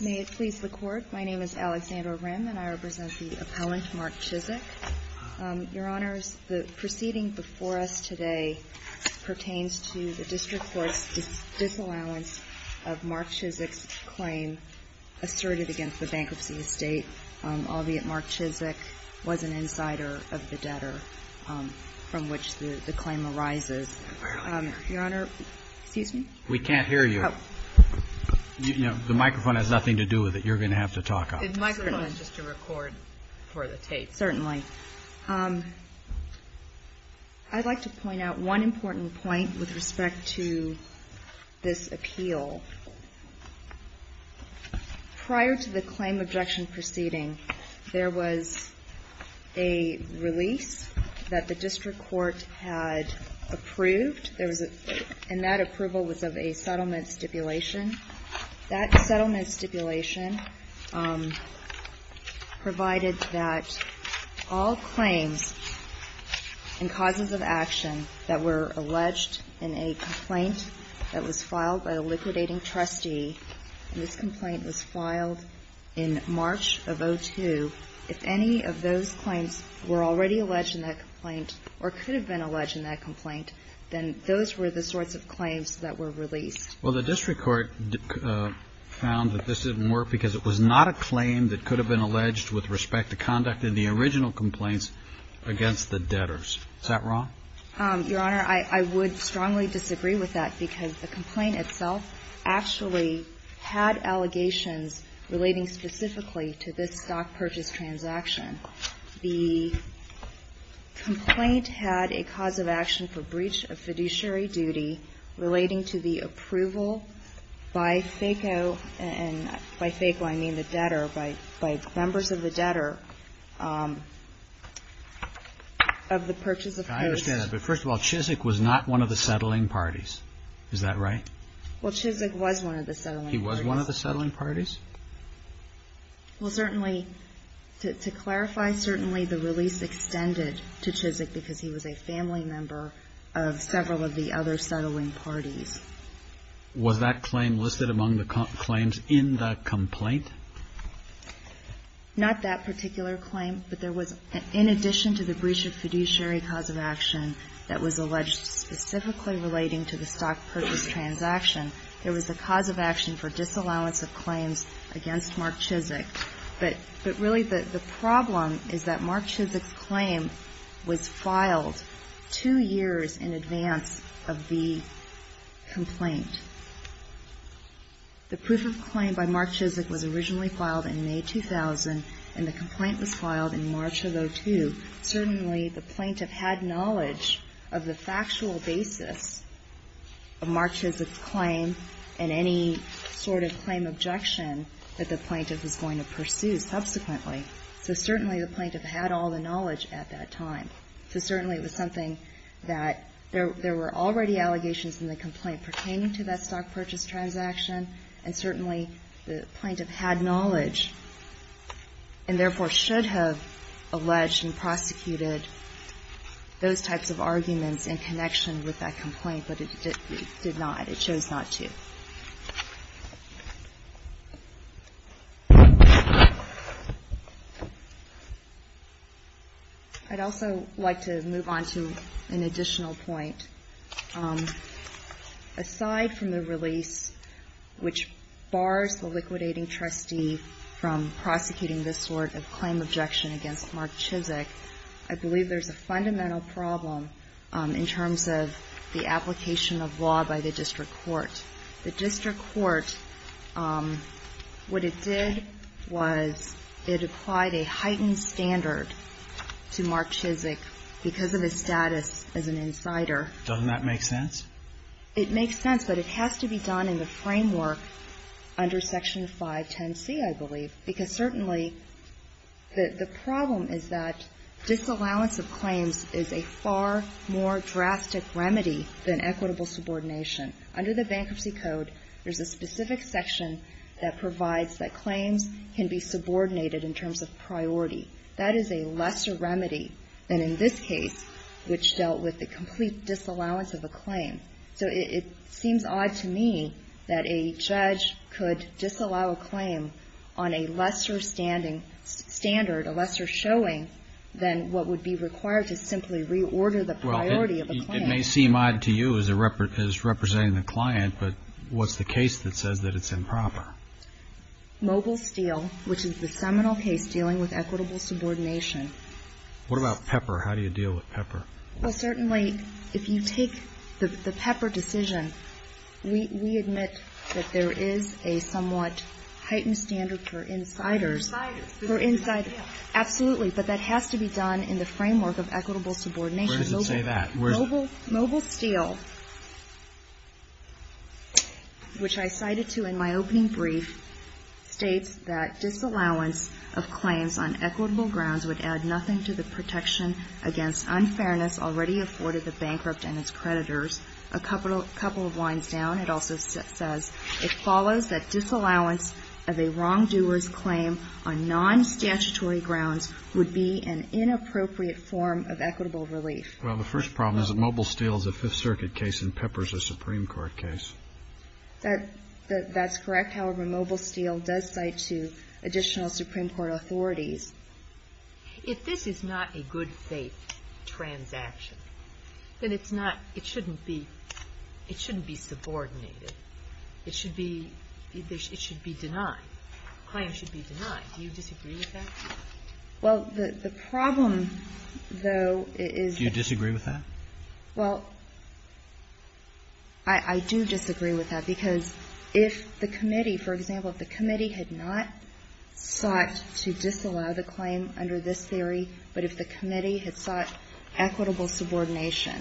May it please the Court, my name is Alexandra Rim and I represent the appellant Mark Chisick. Your Honor, the proceeding before us today pertains to the District Court's disallowance of Mark Chisick's claim asserted against the bankruptcy estate, albeit Mark Chisick was an insider of the debtor from which the claim arises. Your Honor, excuse me? We can't hear you. You know, the microphone has nothing to do with it. You're going to have to talk up. The microphone is just to record for the tape. Certainly. I'd like to point out one important point with respect to this appeal. Prior to the claim objection proceeding, there was a release that the District Court had approved, and that approval was of a settlement stipulation. That settlement stipulation provided that all claims and causes of action that were alleged in a complaint that was filed by a liquidating trustee, and this complaint was filed in March of 2002, if any of those claims were already alleged in that complaint, or could have been alleged in that complaint, then those were the sorts of claims that were released. Well, the District Court found that this didn't work because it was not a claim that could have been alleged with respect to conduct in the original complaints against the debtors. Is that wrong? Your Honor, I would strongly disagree with that because the complaint itself actually had allegations relating specifically to this stock purchase transaction. The complaint had a cause of action for breach of fiduciary duty relating to the approval by FACO, and by FACO I mean the debtor, by members of the debtor, of the purchase of posts. I understand that, but first of all, Chizik was not one of the settling parties. Is that right? Well, Chizik was one of the settling parties. He was one of the settling parties? Well, certainly, to clarify, certainly the release extended to Chizik because he was a family member of several of the other settling parties. Was that claim listed among the claims in the complaint? Not that particular claim, but there was, in addition to the breach of fiduciary cause of action that was alleged specifically relating to the stock purchase transaction, there was a cause of action for disallowance of claims against Mark Chizik. But really, the problem is that Mark Chizik's claim was filed two years in advance of the complaint. The proof of claim by Mark Chizik was originally filed in May 2000, and the complaint was filed in March of 2002. Certainly, the plaintiff had knowledge of the factual basis of Mark Chizik's claim and any sort of claim objection that the plaintiff was going to pursue subsequently. So certainly, the plaintiff had all the knowledge at that time. So certainly, it was something that there were already allegations in the complaint pertaining to that stock purchase transaction, and certainly, the plaintiff had knowledge and therefore should have alleged and prosecuted those types of arguments in connection with that complaint, but it did not. It chose not to. I'd also like to move on to an additional point. Aside from the release which bars the liquidating trustee from prosecuting this sort of claim objection against Mark Chizik, I believe there's a fundamental problem in terms of the application of law by the district court. The district court, what it did was it applied a heightened standard to Mark Chizik because of his status as an insider. Doesn't that make sense? It makes sense, but it has to be done in the framework under Section 510C, I believe, because certainly the problem is that disallowance of claims is a far more drastic remedy than equitable subordination. Under the Bankruptcy Code, there's a specific section that provides that claims can be subordinated in terms of priority. That is a lesser remedy than in this case, which dealt with the complete disallowance of a claim. So it seems odd to me that a judge could disallow a claim on a lesser standard, a lesser showing, than what would be required to simply reorder the priority of a claim. Well, it may seem odd to you as representing the client, but what's the case that says that it's improper? Mobile Steel, which is the seminal case dealing with equitable subordination. What about Pepper? How do you deal with Pepper? Well, certainly if you take the Pepper decision, we admit that there is a somewhat heightened standard for insiders. For insiders. For insiders. Absolutely, but that has to be done in the framework of equitable subordination. Where does it say that? Mobile Steel, which I cited to in my opening brief, states that disallowance of claims on equitable grounds would add nothing to the protection against unfairness already afforded the bankrupt and his creditors. A couple of lines down, it also says, it follows that disallowance of a wrongdoer's claim on non-statutory grounds would be an inappropriate form of equitable relief. Well, the first problem is that Mobile Steel is a Fifth Circuit case and Pepper is a Supreme Court case. That's correct. However, Mobile Steel does cite to additional Supreme Court authorities. If this is not a good faith transaction, then it's not, it shouldn't be, it shouldn't be subordinated. It should be, it should be denied. Claims should be denied. Do you disagree with that? Well, the problem, though, is that I do disagree with that because if the committee, for example, if the committee had not sought to disallow the claim under this theory, but if the committee had sought equitable subordination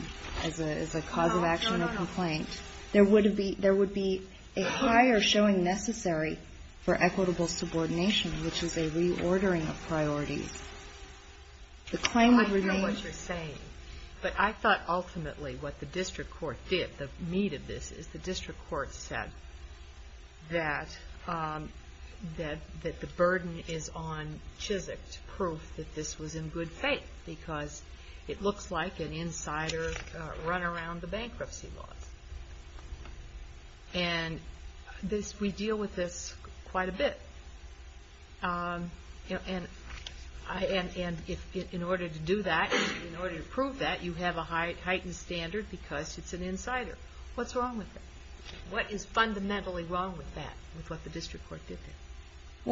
as a cause of action or complaint, there would be, there would be a higher showing necessary for equitable subordination, which is a reordering of priorities. The claim would remain. I don't know what you're saying. But I thought ultimately what the district court did, the meat of this, is the district court said that, that the burden is on Chizik to prove that this was in good faith because it looks like an insider run around the bankruptcy laws. And this, we deal with this quite a bit. And in order to do that, in order to prove that, you have a heightened standard because it's an insider. What's wrong with that? What is fundamentally wrong with that, with what the district court did there?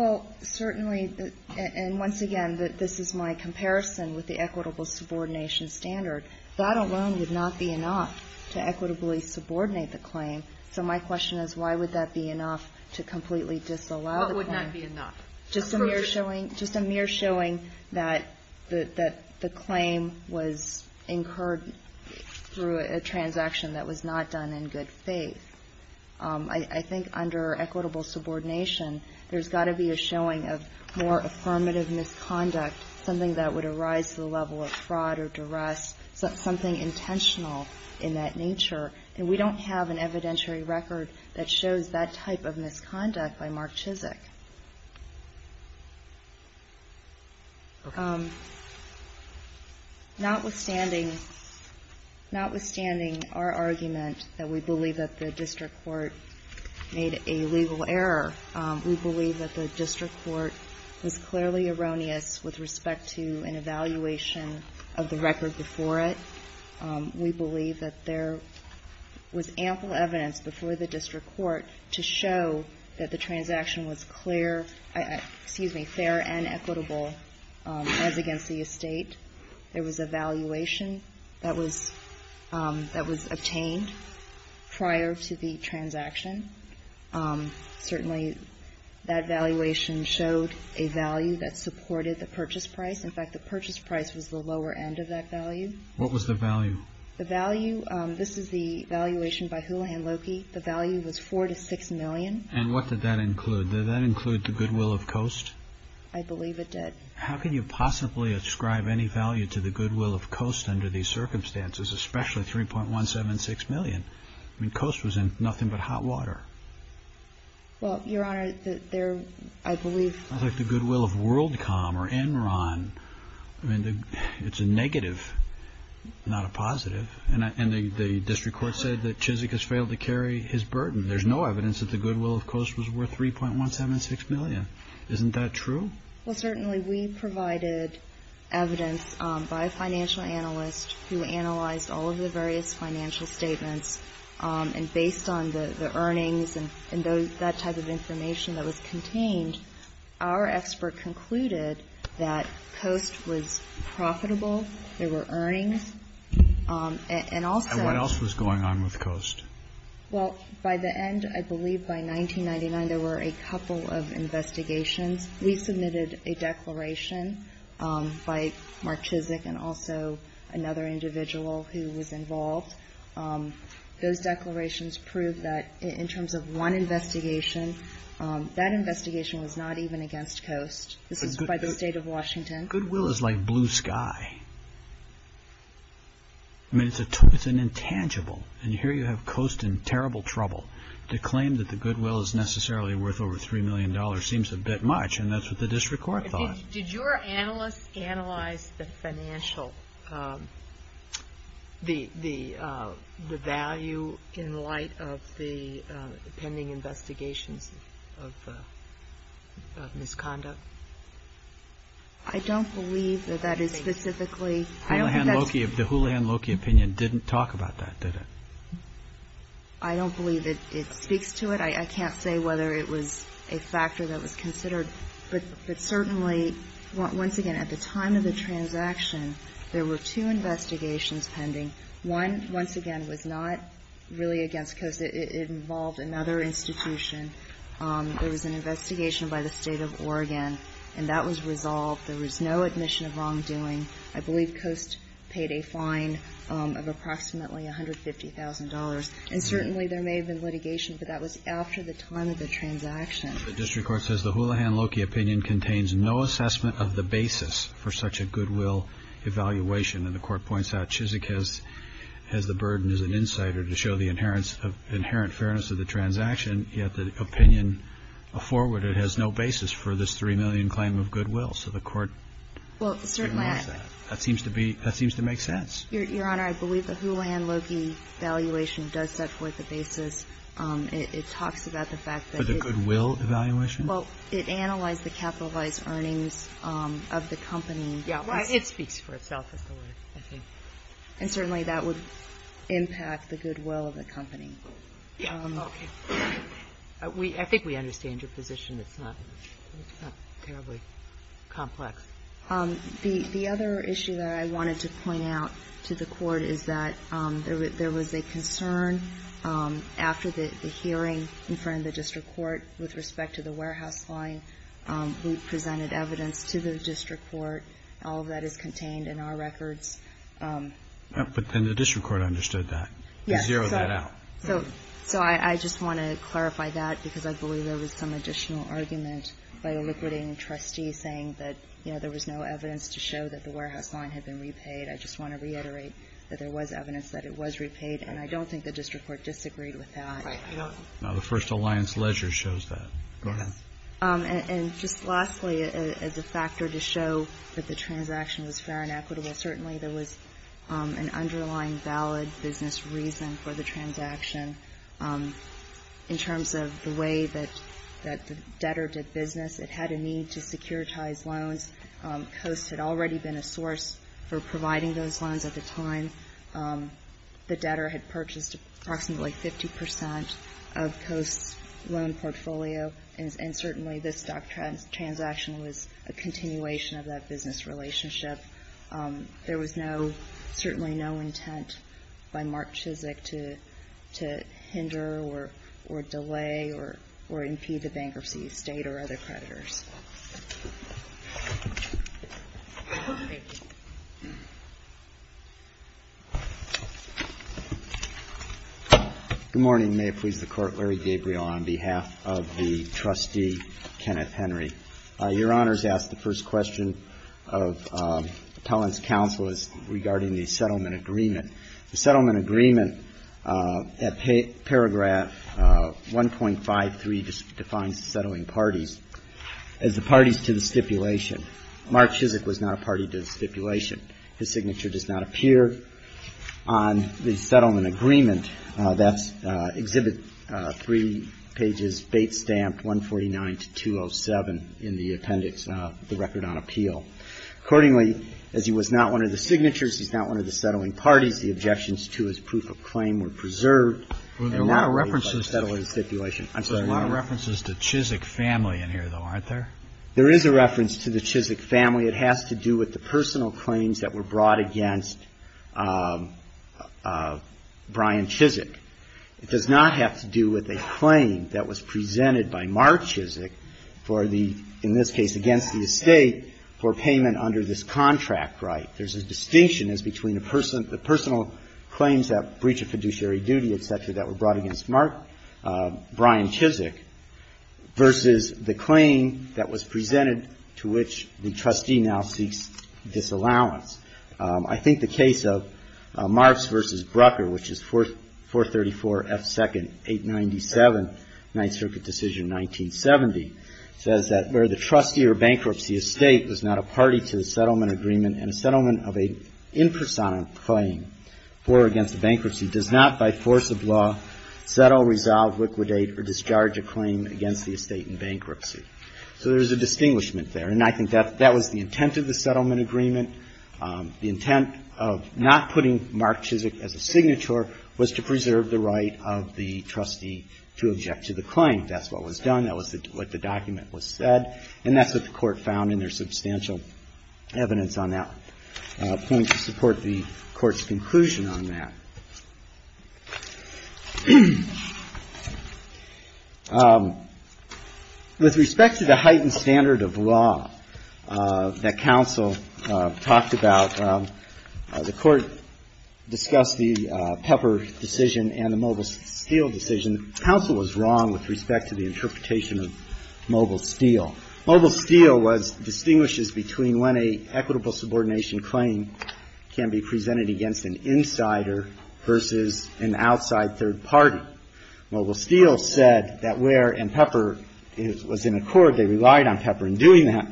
Well, certainly, and once again, this is my comparison with the equitable subordination standard. That alone would not be enough to equitably subordinate the claim. Just a mere showing, just a mere showing that the claim was incurred through a transaction that was not done in good faith. I think under equitable subordination, there's got to be a showing of more affirmative misconduct, something that would arise to the level of fraud or duress, something intentional in that nature. And we don't have an evidentiary record that shows that type of misconduct by Mark Chizik. Notwithstanding, notwithstanding our argument that we believe that the district court made a legal error, we believe that the district court was clearly erroneous with respect to an evaluation of the record before it. We believe that there was ample evidence before the district court to show that the transaction was clear, excuse me, fair and equitable as against the estate. There was a valuation that was obtained prior to the transaction. Certainly, that valuation showed a value that supported the purchase price. In fact, the purchase price was the lower end of that value. What was the value? The value, this is the valuation by Houlihan Loki. The value was $4 to $6 million. And what did that include? Did that include the goodwill of Coast? I believe it did. How can you possibly ascribe any value to the goodwill of Coast under these circumstances, especially $3.176 million? I mean, Coast was in nothing but hot water. Well, Your Honor, there, I believe... I think the goodwill of WorldCom or Enron, I mean, it's a negative, not a positive. And the district court said that Chizik has failed to carry his burden. There's no evidence that the goodwill of Coast was worth $3.176 million. Isn't that true? Well, certainly, we provided evidence by a financial analyst who analyzed all of the various financial statements, and based on the earnings and that type of information that was contained, our expert concluded that Coast was profitable. There were earnings. And also... And what else was going on with Coast? Well, by the end, I believe by 1999, there were a couple of investigations. We submitted a declaration by Mark Chizik and also another individual who was involved. Those declarations proved that in terms of one investigation, that investigation was not even against Coast. This is by the State of Washington. Goodwill is like blue sky. I mean, it's an intangible. And here you have Coast in terrible trouble. To claim that the goodwill is necessarily worth over $3 million seems a bit much, and that's what the district court thought. Did your analysts analyze the financial, the value in light of the pending investigations of misconduct? I don't believe that that is specifically. I don't think that's... The Houlihan-Loki opinion didn't talk about that, did it? I don't believe it speaks to it. I can't say whether it was a factor that was considered. But certainly, once again, at the time of the transaction, there were two investigations pending. One, once again, was not really against Coast. It involved another institution. There was an investigation by the State of Oregon, and that was resolved. There was no admission of wrongdoing. I believe Coast paid a fine of approximately $150,000. And certainly there may have been litigation, but that was after the time of the transaction. The district court says the Houlihan-Loki opinion contains no assessment of the basis for such a goodwill evaluation. And the Court points out Chizik has the burden as an insider to show the inherent fairness of the transaction, yet the opinion forwarded has no basis for this $3 million claim of goodwill. So the Court ignores that. Well, certainly I... That seems to make sense. Your Honor, I believe the Houlihan-Loki evaluation does set forth the basis. It talks about the fact that it... For the goodwill evaluation? Well, it analyzed the capitalized earnings of the company. Yeah. Well, it speaks for itself as the word, I think. And certainly that would impact the goodwill of the company. Yeah. Okay. I think we understand your position. It's not terribly complex. The other issue that I wanted to point out to the Court is that there was a concern after the hearing in front of the district court with respect to the warehouse line who presented evidence to the district court. All of that is contained in our records. But then the district court understood that. Yes. Zeroed that out. So I just want to clarify that because I believe there was some additional argument by a liquidating trustee saying that, you know, there was no evidence to show that the warehouse line had been repaid. I just want to reiterate that there was evidence that it was repaid. And I don't think the district court disagreed with that. Right. Now, the first alliance ledger shows that. Go ahead. And just lastly, as a factor to show that the transaction was fair and equitable, certainly there was an underlying valid business reason for the transaction. In terms of the way that the debtor did business, it had a need to securitize loans. Coast had already been a source for providing those loans at the time. The debtor had purchased approximately 50 percent of Coast's loan portfolio, and certainly this stock transaction was a continuation of that business relationship. There was no, certainly no intent by Mark Chizik to hinder or delay or impede the bankruptcy of State or other creditors. Thank you. Good morning. May it please the Court. Larry Gabriel on behalf of the trustee, Kenneth Henry. Your Honor has asked the first question of Appellant's counsel is regarding the settlement agreement. The settlement agreement at paragraph 1.53 defines the settling parties. As the parties to the stipulation, Mark Chizik was not a party to the stipulation. His signature does not appear on the settlement agreement. That's Exhibit 3, pages 8, stamped 149 to 207 in the appendix of the Record on Appeal. Accordingly, as he was not one of the signatures, he's not one of the settling parties, the objections to his proof of claim were preserved. There is a reference to the Chizik family. It has to do with the personal claims that were brought against Brian Chizik. It does not have to do with a claim that was presented by Mark Chizik for the, in this case, against the Estate for payment under this contract right. There's a distinction as between the personal claims, that breach of fiduciary duty, et cetera, that were brought against Mark, Brian Chizik, versus the claim that was presented to which the trustee now seeks disallowance. I think the case of Marks v. Brucker, which is 434F2nd.897, Ninth Circuit decision 1970, says that where the trustee or bankruptcy estate was not a party to the settlement agreement and a settlement of an impersonal claim for or against the bankruptcy does not by force of law settle, resolve, liquidate, or discharge a claim against the estate in bankruptcy. So there's a distinguishment there. And I think that was the intent of the settlement agreement. The intent of not putting Mark Chizik as a signature was to preserve the right of the trustee to object to the claim. That's what was done. That was what the document said. And that's what the Court found in their substantial evidence on that point to support the Court's conclusion on that. With respect to the heightened standard of law that counsel talked about, the Court discussed the Pepper decision and the Mobile Steel decision. And counsel was wrong with respect to the interpretation of Mobile Steel. Mobile Steel distinguishes between when an equitable subordination claim can be presented against an insider versus an outside third party. Mobile Steel said that where, and Pepper was in accord, they relied on Pepper in doing that,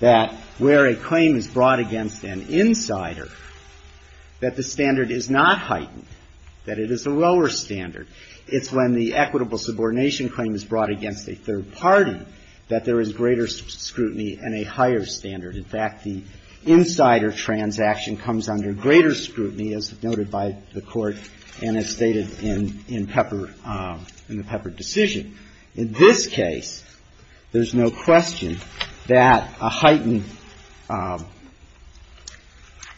that where a claim is brought against an insider, that the standard is not heightened, that it is a lower standard. It's when the equitable subordination claim is brought against a third party that there is greater scrutiny and a higher standard. In fact, the insider transaction comes under greater scrutiny, as noted by the Court, and as stated in Pepper, in the Pepper decision. In this case, there's no question that a heightened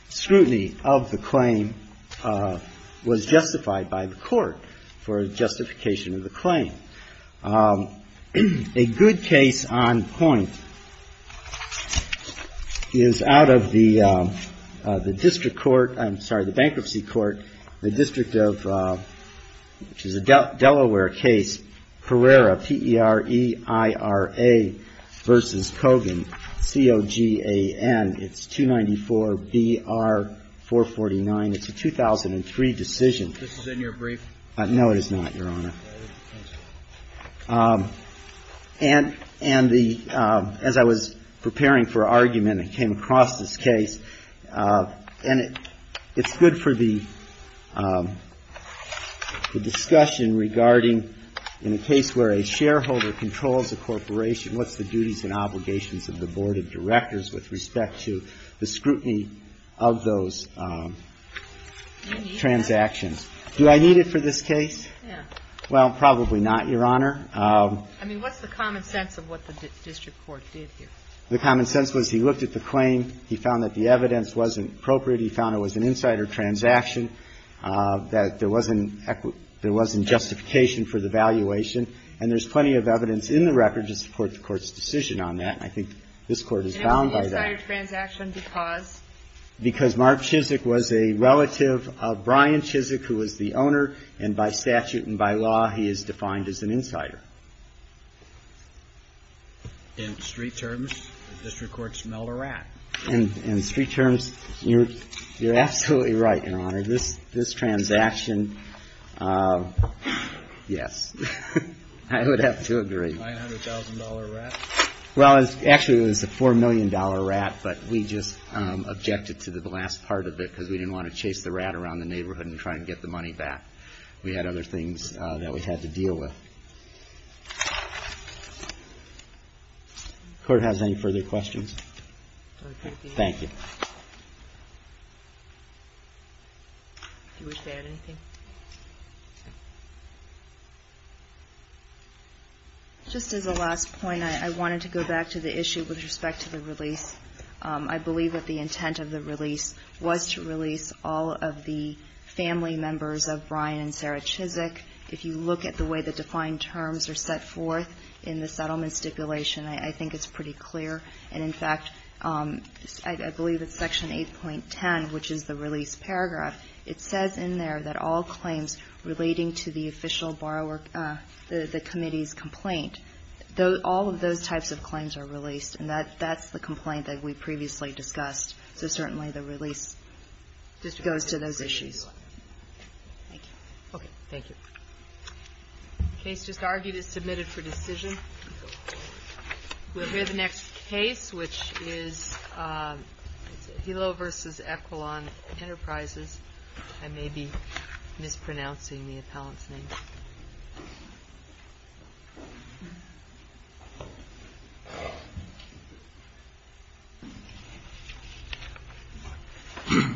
scrutiny of the claim was justified by the Court for justification of the claim. A good case on point is out of the district court, I'm sorry, the bankruptcy court, the district of, which is a Delaware case, Pereira, P-E-R-E-I-R-A v. Kogan, C-O-G-A-N. It's 294-BR-449. It's a 2003 decision. This is in your brief? No, it is not, Your Honor. And the, as I was preparing for argument and came across this case, and it's good for the discussion regarding in a case where a shareholder controls a corporation, what's the duties and obligations of the board of directors with respect to the scrutiny of those transactions? Do I need it for this case? Yeah. Well, probably not, Your Honor. I mean, what's the common sense of what the district court did here? The common sense was he looked at the claim, he found that the evidence wasn't appropriate, he found it was an insider transaction, that there wasn't justification for the valuation, and there's plenty of evidence in the record to support the Court's decision on that, and I think this Court is bound by that. Why an insider transaction? Because? Because Mark Chizik was a relative of Brian Chizik, who was the owner, and by statute and by law, he is defined as an insider. In street terms, the district court smelled a rat. In street terms, you're absolutely right, Your Honor. This transaction, yes, I would have to agree. $900,000 rat? Well, actually, it was a $4 million rat, but we just objected to the last part of it because we didn't want to chase the rat around the neighborhood and try to get the money back. We had other things that we had to deal with. Court has any further questions? Thank you. Do you wish to add anything? Just as a last point, I wanted to go back to the issue with respect to the release. I believe that the intent of the release was to release all of the family members of Brian and Sarah Chizik. If you look at the way the defined terms are set forth in the settlement stipulation, I think it's pretty clear. And, in fact, I believe it's Section 8.10, which is the release paragraph. It says in there that all claims relating to the official borrower, the committee's complaint, all of those types of claims are released. And that's the complaint that we previously discussed. So, certainly, the release goes to those issues. Thank you. Okay. Thank you. The case just argued is submitted for decision. We'll hear the next case, which is Hilo v. Equilon Enterprises. I may be mispronouncing the appellant's name.